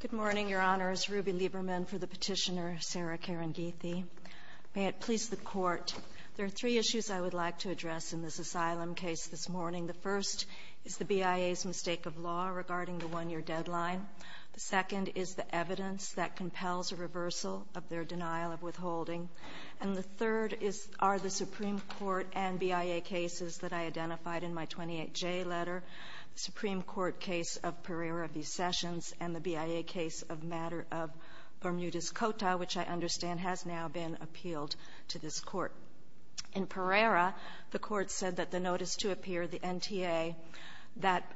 Good morning, Your Honors. Ruby Lieberman for the petitioner, Sarah Karingithi. May it please the Court, there are three issues I would like to address in this asylum case this morning. The first is the BIA's mistake of law regarding the one-year deadline. The second is the evidence that compels a reversal of their denial of withholding. And the third are the Supreme Court and BIA cases that I identified in my 28J letter, the Supreme Court case of Pereira v. Sessions, and the BIA case of matter of Bermudez-Cota, which I understand has now been appealed to this Court. In Pereira, the Court said that the notice to appear, the NTA, that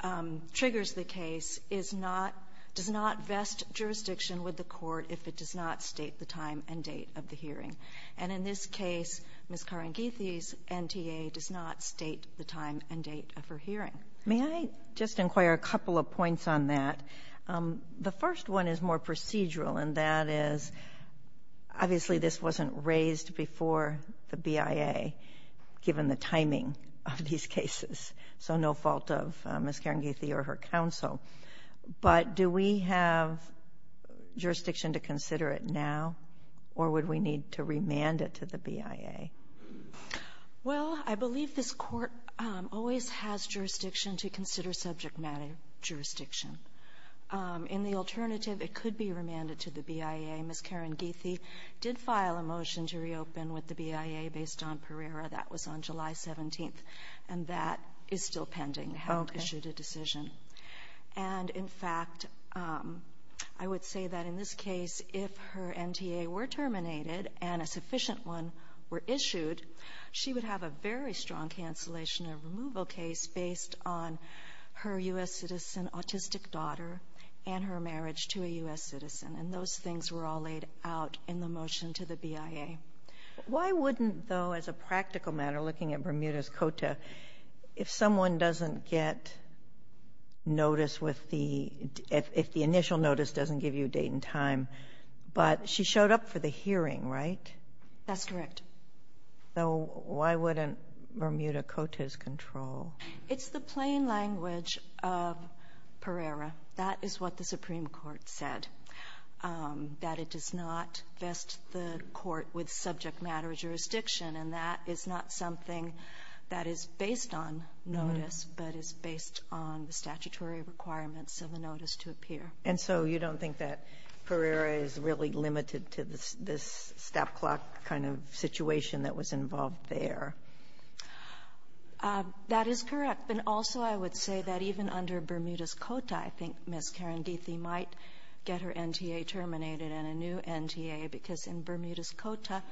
triggers the case is not does not vest jurisdiction with the Court if it does not state the time and date of the hearing. And in this case, Ms. Karingithi's NTA does not state the time and date of her hearing. May I just inquire a couple of points on that? The first one is more procedural, and that is, obviously, this wasn't raised before the BIA, given the timing of these cases. So no fault of Ms. Karingithi or her counsel. But do we have jurisdiction to consider it now, or would we need to remand it to the BIA? Well, I believe this Court always has jurisdiction to consider subject-matter jurisdiction. In the alternative, it could be remanded to the BIA. Ms. Karingithi did file a motion to reopen with the BIA based on Pereira. That was on July 17th, and that is still pending. We haven't issued a decision. And, in fact, I would say that in this case, if her motion was issued, she would have a very strong cancellation of removal case based on her U.S. citizen, autistic daughter, and her marriage to a U.S. citizen. And those things were all laid out in the motion to the BIA. Why wouldn't, though, as a practical matter, looking at Bermuda's Cota, if someone doesn't get notice with the — if the initial notice doesn't give you a date and time, but she showed up for the hearing, right? That's correct. So why wouldn't Bermuda Cota's control? It's the plain language of Pereira. That is what the Supreme Court said, that it does not vest the Court with subject-matter jurisdiction. And that is not something that is based on notice, but is based on the statutory requirements of the notice to appear. And so you don't think that Pereira is really limited to this — this stop-clock kind of situation that was involved there? That is correct. But also I would say that even under Bermuda's Cota, I think Ms. Karandithi might get her NTA terminated and a new NTA, because in Bermuda's Cota,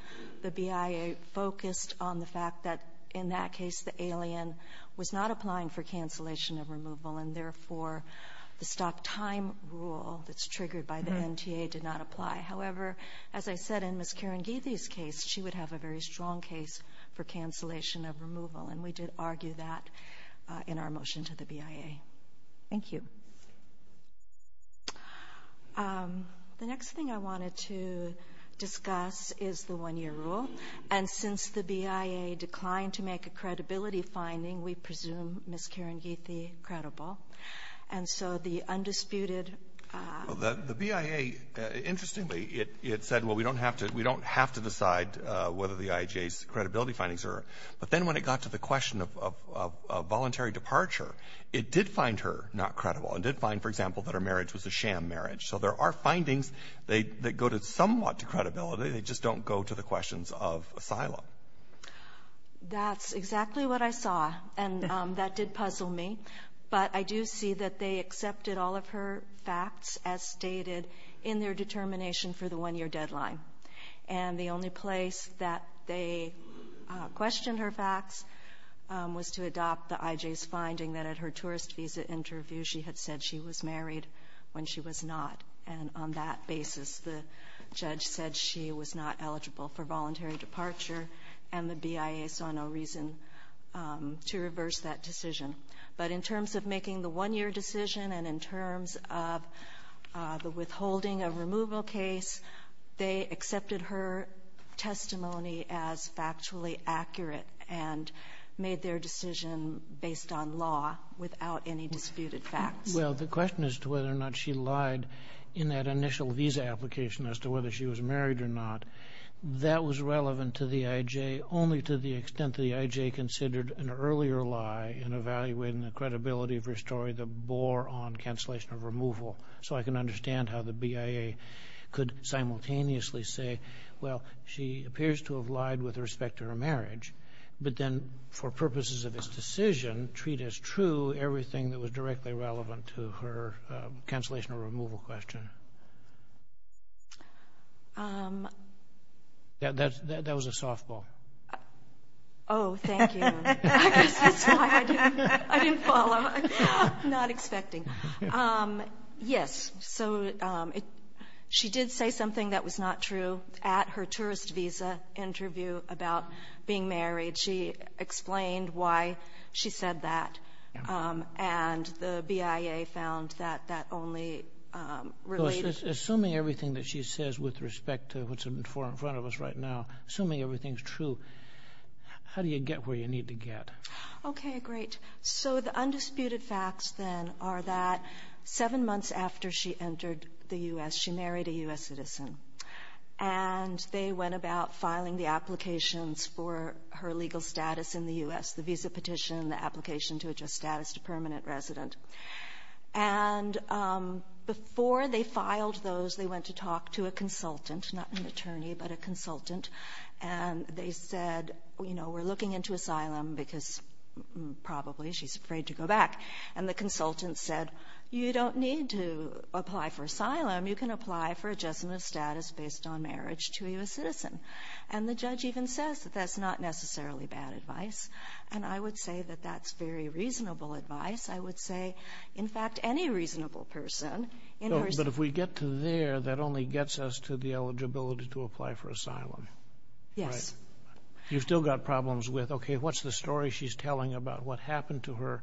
the BIA focused on the fact that, in that case, the alien was not applying for cancellation of removal, and, therefore, the stop-time rule that's triggered by the NTA did not apply. However, as I said, in Ms. Karandithi's case, she would have a very strong case for cancellation of removal, and we did argue that in our motion to the BIA. Thank you. The next thing I wanted to discuss is the one-year rule. And since the BIA declined to make a credibility finding, we presume Ms. Karandithi is not going to be able to be credible. And so the undisputed — Well, the BIA, interestingly, it said, well, we don't have to — we don't have to decide whether the IHA's credibility findings are — but then when it got to the question of voluntary departure, it did find her not credible. It did find, for example, that her marriage was a sham marriage. So there are findings that go to somewhat to credibility. They just don't go to the questions of asylum. That's exactly what I saw. And that did puzzle me. But I do see that they accepted all of her facts, as stated, in their determination for the one-year deadline. And the only place that they questioned her facts was to adopt the IJ's finding that at her tourist visa interview, she had said she was married when she was not. And on that basis, the judge said she was not credible in her voluntary departure, and the BIA saw no reason to reverse that decision. But in terms of making the one-year decision and in terms of the withholding of removal case, they accepted her testimony as factually accurate and made their decision based on law without any disputed facts. Well, the question as to whether or not she lied in that initial visa application as to whether she was married or not, that was relevant to the IJ, only to the extent the IJ considered an earlier lie in evaluating the credibility of her story that bore on cancellation of removal. So I can understand how the BIA could simultaneously say, well, she appears to have lied with respect to her marriage, but then for purposes of its decision, treat as true everything that was directly relevant to her cancellation or removal question. That was a softball. Oh, thank you. I guess that's why I didn't follow. I'm not expecting. Yes, so she did say something that was not true at her tourist visa interview about being married. She explained why she said that, and the BIA found that that only related to the visa application. Assuming everything that she says with respect to what's in front of us right now, assuming everything's true, how do you get where you need to get? Okay, great. So the undisputed facts, then, are that seven months after she entered the U.S., she married a U.S. citizen, and they went about filing the applications for her legal status in the U.S., the visa petition, the application to adjust status to permanent resident. And before they filed those, they went to talk to a consultant, not an attorney, but a consultant, and they said, you know, we're looking into asylum because probably she's afraid to go back. And the consultant said, you don't need to apply for asylum. You can apply for adjustment of status based on marriage to a U.S. citizen. And the judge even says that that's not necessarily bad advice. And I would say that that's very reasonable advice. I would say, in fact, any reasonable person in her ---- But if we get to there, that only gets us to the eligibility to apply for asylum. Yes. Right. You've still got problems with, okay, what's the story she's telling about what happened to her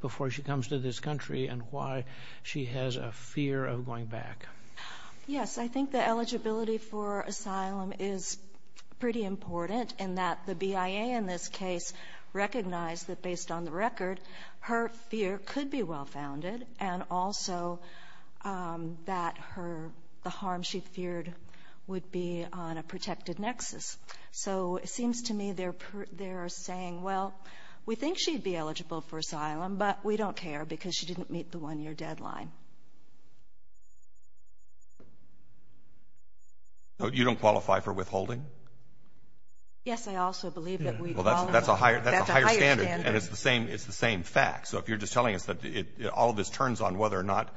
before she comes to this country, and why she has a fear of going back? Yes. I think the eligibility for asylum is pretty important in that the BIA in this case recognized that, based on the record, her fear could be well-founded, and also that her ---- the harm she feared would be on a protected nexus. So it seems to me they're saying, well, we think she'd be eligible for asylum, but we don't care because she didn't meet the one-year deadline. You don't qualify for withholding? Yes. I also believe that we qualify. Well, that's a higher standard. That's a higher standard. And it's the same fact. So if you're just telling us that all of this turns on whether or not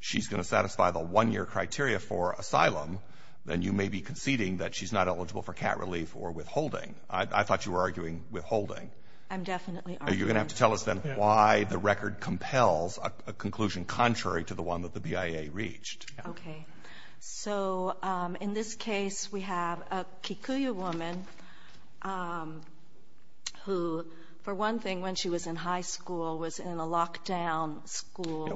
she's going to satisfy the one-year criteria for asylum, then you may be conceding that she's not eligible for cat relief or withholding. I thought you were arguing withholding. I'm definitely arguing. Okay. So in this case, we have a Kikuyu woman who, for one thing, when she was in high school was in a locked-down school.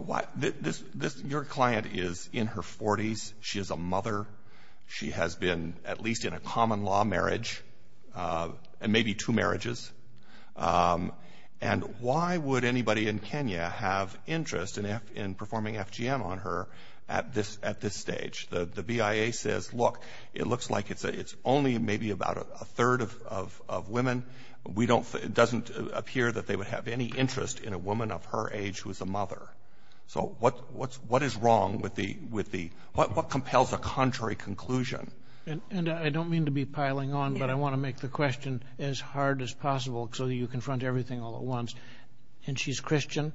Your client is in her 40s. She is a mother. She has been at least in a common-law marriage, and maybe two marriages. And why would anybody in Kenya have interest in performing FGM on her at this stage? The BIA says, look, it looks like it's only maybe about a third of women. It doesn't appear that they would have any interest in a woman of her age who is a mother. So what is wrong with the – what compels a contrary conclusion? And I don't mean to be piling on, but I want to make the question as hard as possible so that you confront everything all at once. And she's Christian,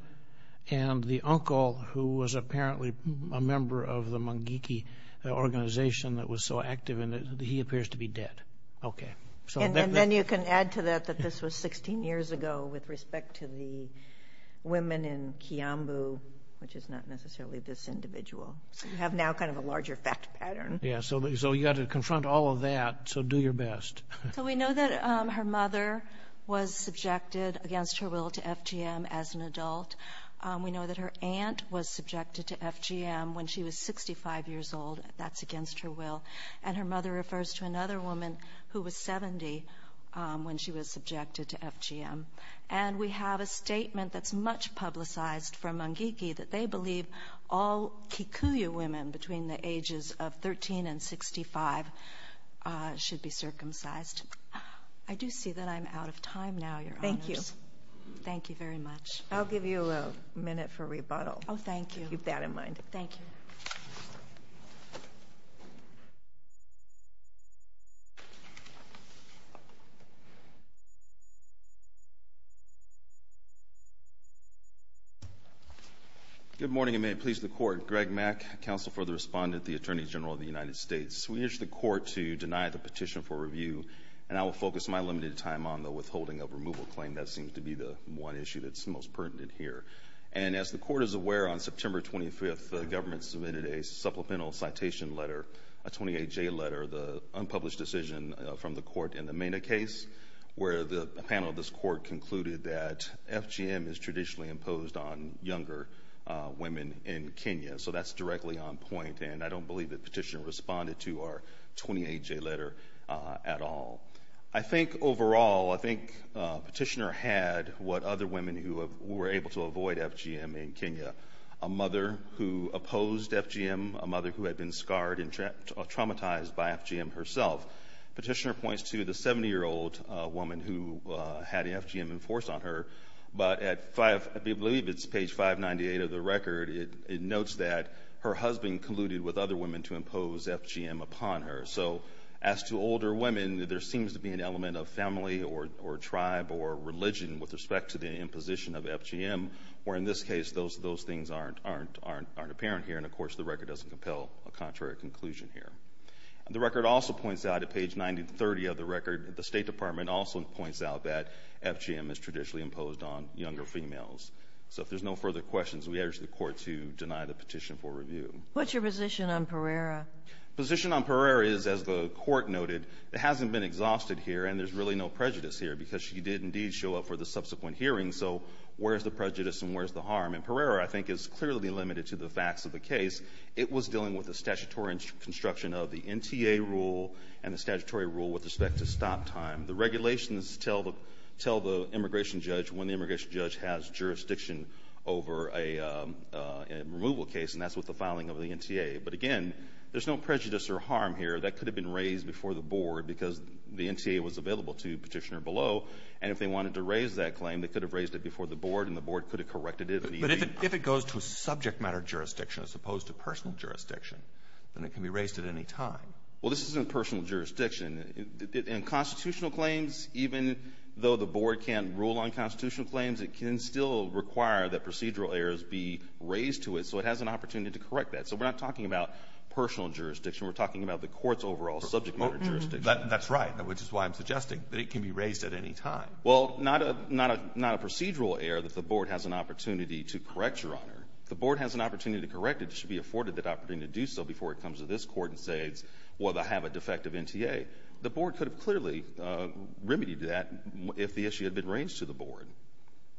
and the uncle, who was apparently a member of the Mangeki organization that was so active in it, he appears to be dead. Okay. And then you can add to that that this was 16 years ago with respect to the women in Kiambu, which is not necessarily this individual. So you have now kind of a larger fact pattern. Yeah. So you've got to confront all of that. So do your best. So we know that her mother was subjected against her will to FGM as an adult. We know that her aunt was subjected to FGM when she was 65 years old. That's against her will. And her mother refers to another woman who was 70 when she was subjected to FGM. And we have a statement that's much publicized from Mangeki that they believe all Kikuyu women between the ages of 13 and 65 should be circumcised. I do see that I'm out of time now, Your Honors. Thank you. Thank you very much. I'll give you a minute for rebuttal. Oh, thank you. Keep that in mind. Thank you. Thank you. Good morning, and may it please the Court. Greg Mack, Counsel for the Respondent, the Attorney General of the United States. We urge the Court to deny the petition for review, and I will focus my limited time on the withholding of removal claim. That seems to be the one issue that's most pertinent here. And as the Court is aware, on September 25th, the government submitted a supplemental citation letter, a 28-J letter, the unpublished decision from the Court in the Mena case, where the panel of this Court concluded that FGM is traditionally imposed on younger women in Kenya. So that's directly on point. And I don't believe the petitioner responded to our 28-J letter at all. I think overall, I think petitioner had what other women who were able to avoid FGM in Kenya, a mother who opposed FGM, a mother who had been scarred and traumatized by FGM herself. Petitioner points to the 70-year-old woman who had FGM enforced on her, but at 5, I believe it's page 598 of the record, it notes that her husband colluded with other women to impose FGM upon her. So as to older women, there seems to be an element of family or tribe or religion with respect to the imposition of FGM, where in this case, those things aren't apparent here. And of course, the record doesn't compel a contrary conclusion here. The record also points out, at page 930 of the record, the State Department also points out that FGM is traditionally imposed on younger females. So if there's no further questions, we urge the Court to deny the petition for review. What's your position on Pereira? The position on Pereira is, as the Court noted, it hasn't been exhausted here and there's really no prejudice here because she did indeed show up for the subsequent hearing, so where's the prejudice and where's the harm? And Pereira, I think, is clearly limited to the facts of the case. It was dealing with the statutory construction of the NTA rule and the statutory rule with respect to stop time. The regulations tell the immigration judge when the immigration judge has jurisdiction over a removal case and that's with the filing of the NTA. But again, there's no prejudice or harm here. That could have been raised before the board because the NTA was available to the petitioner below. And if they wanted to raise that claim, they could have raised it before the board and the board could have corrected it. But if it goes to a subject matter jurisdiction as opposed to personal jurisdiction, then it can be raised at any time. Well, this isn't personal jurisdiction. In constitutional claims, even though the board can rule on constitutional claims, it can still require that procedural errors be raised to it, so it has an opportunity to correct that. So we're not talking about personal jurisdiction. We're talking about the court's overall subject matter jurisdiction. That's right, which is why I'm suggesting that it can be raised at any time. Well, not a procedural error that the board has an opportunity to correct, Your Honor. If the board has an opportunity to correct it, it should be afforded that opportunity to do so before it comes to this court and says, well, they have a defective NTA. The board could have clearly remedied that if the issue had been raised to the board.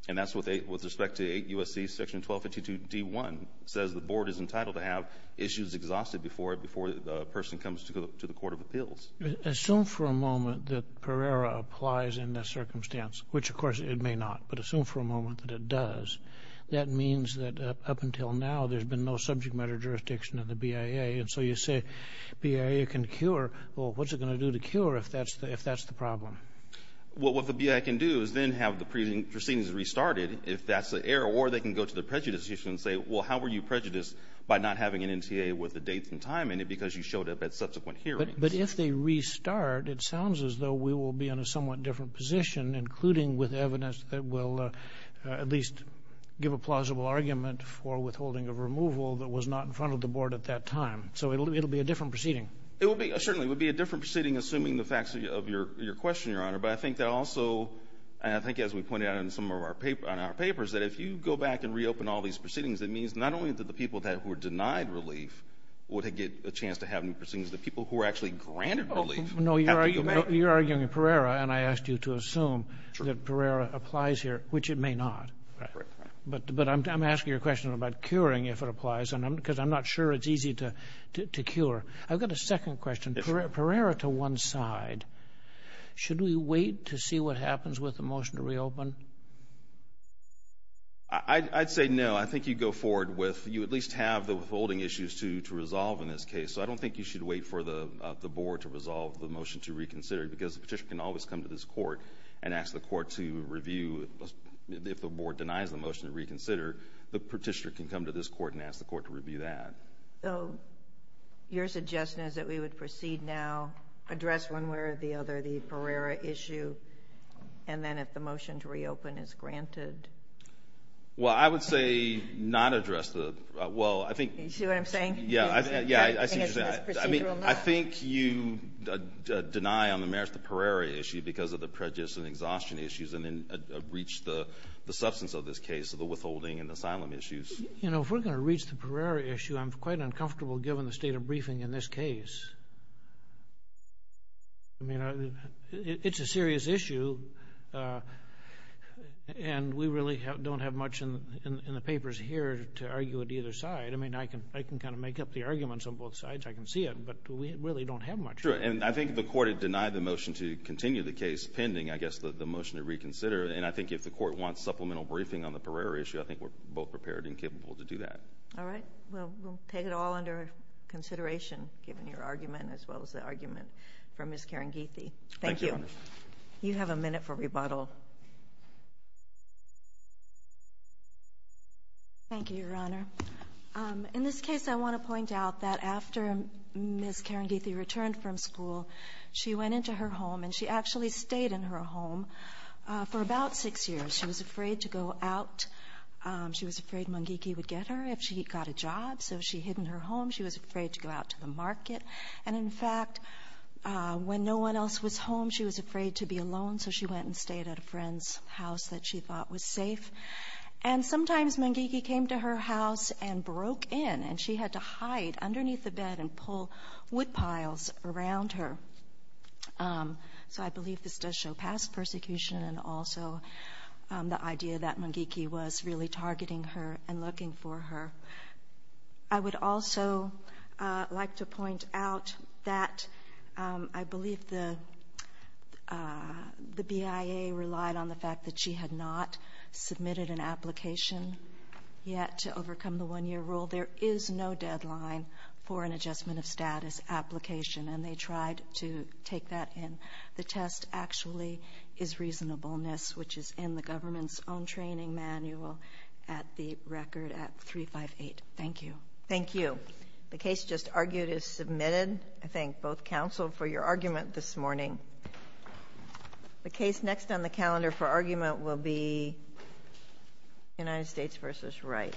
And that's with respect to 8 U.S.C. Section 1252 D.1 that says the board is entitled to have issues exhausted before the person comes to the court of appeals. Assume for a moment that Pereira applies in this circumstance, which, of course, it may not. But assume for a moment that it does. That means that up until now, there's been no subject matter jurisdiction in the BIA. And so you say BIA can cure. Well, what's it going to do to cure if that's the problem? Well, what the BIA can do is then have the proceedings restarted if that's the error. Or they can go to the prejudices and say, well, how were you prejudiced by not having an NTA with the dates and time in it because you showed up at subsequent hearings? But if they restart, it sounds as though we will be in a somewhat different position, including with evidence that will at least give a plausible argument for withholding of removal that was not in front of the board at that time. It certainly would be a different proceeding assuming the facts of your question, Your Honor. But I think that also, and I think as we pointed out in some of our papers, that if you go back and reopen all these proceedings, it means not only that the people that were denied relief would get a chance to have new proceedings, the people who were actually granted relief have to go back. No, you're arguing Pereira, and I asked you to assume that Pereira applies here, which it may not. But I'm asking your question about curing if it applies because I'm not sure it's easy to cure. I've got a second question. Pereira to one side. Should we wait to see what happens with the motion to reopen? I'd say no. I think you go forward with you at least have the withholding issues to resolve in this case. So I don't think you should wait for the board to resolve the motion to reconsider because the petitioner can always come to this court and ask the court to review if the board denies the motion to reconsider, the petitioner can come to this court and ask the court to review that. So your suggestion is that we would proceed now, address one way or the other the Pereira issue, and then if the motion to reopen is granted? Well, I would say not address the... You see what I'm saying? I think you deny on the merits the Pereira issue because of the prejudice and exhaustion issues and then reach the substance of this case of the withholding and asylum issues. You know, if we're going to reach the Pereira issue, I'm quite uncomfortable given the state of briefing in this case. I mean, it's a serious issue and we really don't have much in the papers here to argue it either side. I mean, I can kind of make up the arguments on both sides. I can see it. But we really don't have much. True. And I think the court had denied the motion to continue the case pending, I guess, the motion to reconsider. And I think if the court wants supplemental briefing on the Pereira issue, I think we're both prepared and capable to do that. All right. Well, we'll take it all under consideration, given your argument as well as the argument from Ms. Karangithi. Thank you. You have a minute for rebuttal. Thank you, Your Honor. In this case, I want to point out that after Ms. Karangithi returned from school, she went into her home and she actually stayed in her home for about six years. She was afraid to go out. She was afraid Mungiki would get her if she got a job, so she hid in her home. She was afraid to go out to the market. And in fact, when no one else was home, she was afraid to be alone, so she went and stayed at a friend's house that she thought was safe. And sometimes Mungiki came to her house and broke in. And she had to hide underneath the bed and pull wood piles around her. So I believe this does show past persecution and also the idea that Mungiki was really targeting her and looking for her. I would also like to point out that I believe the BIA relied on the fact that she had not submitted an application yet to overcome the one-year rule. There is no deadline for an adjustment of status application and they tried to take that in. The test actually is reasonableness, which is in the government's own training manual at the record at 358. Thank you. The case just argued is submitted. I thank both counsel for your argument this morning. The case next on the calendar for argument will be United States v. Wright.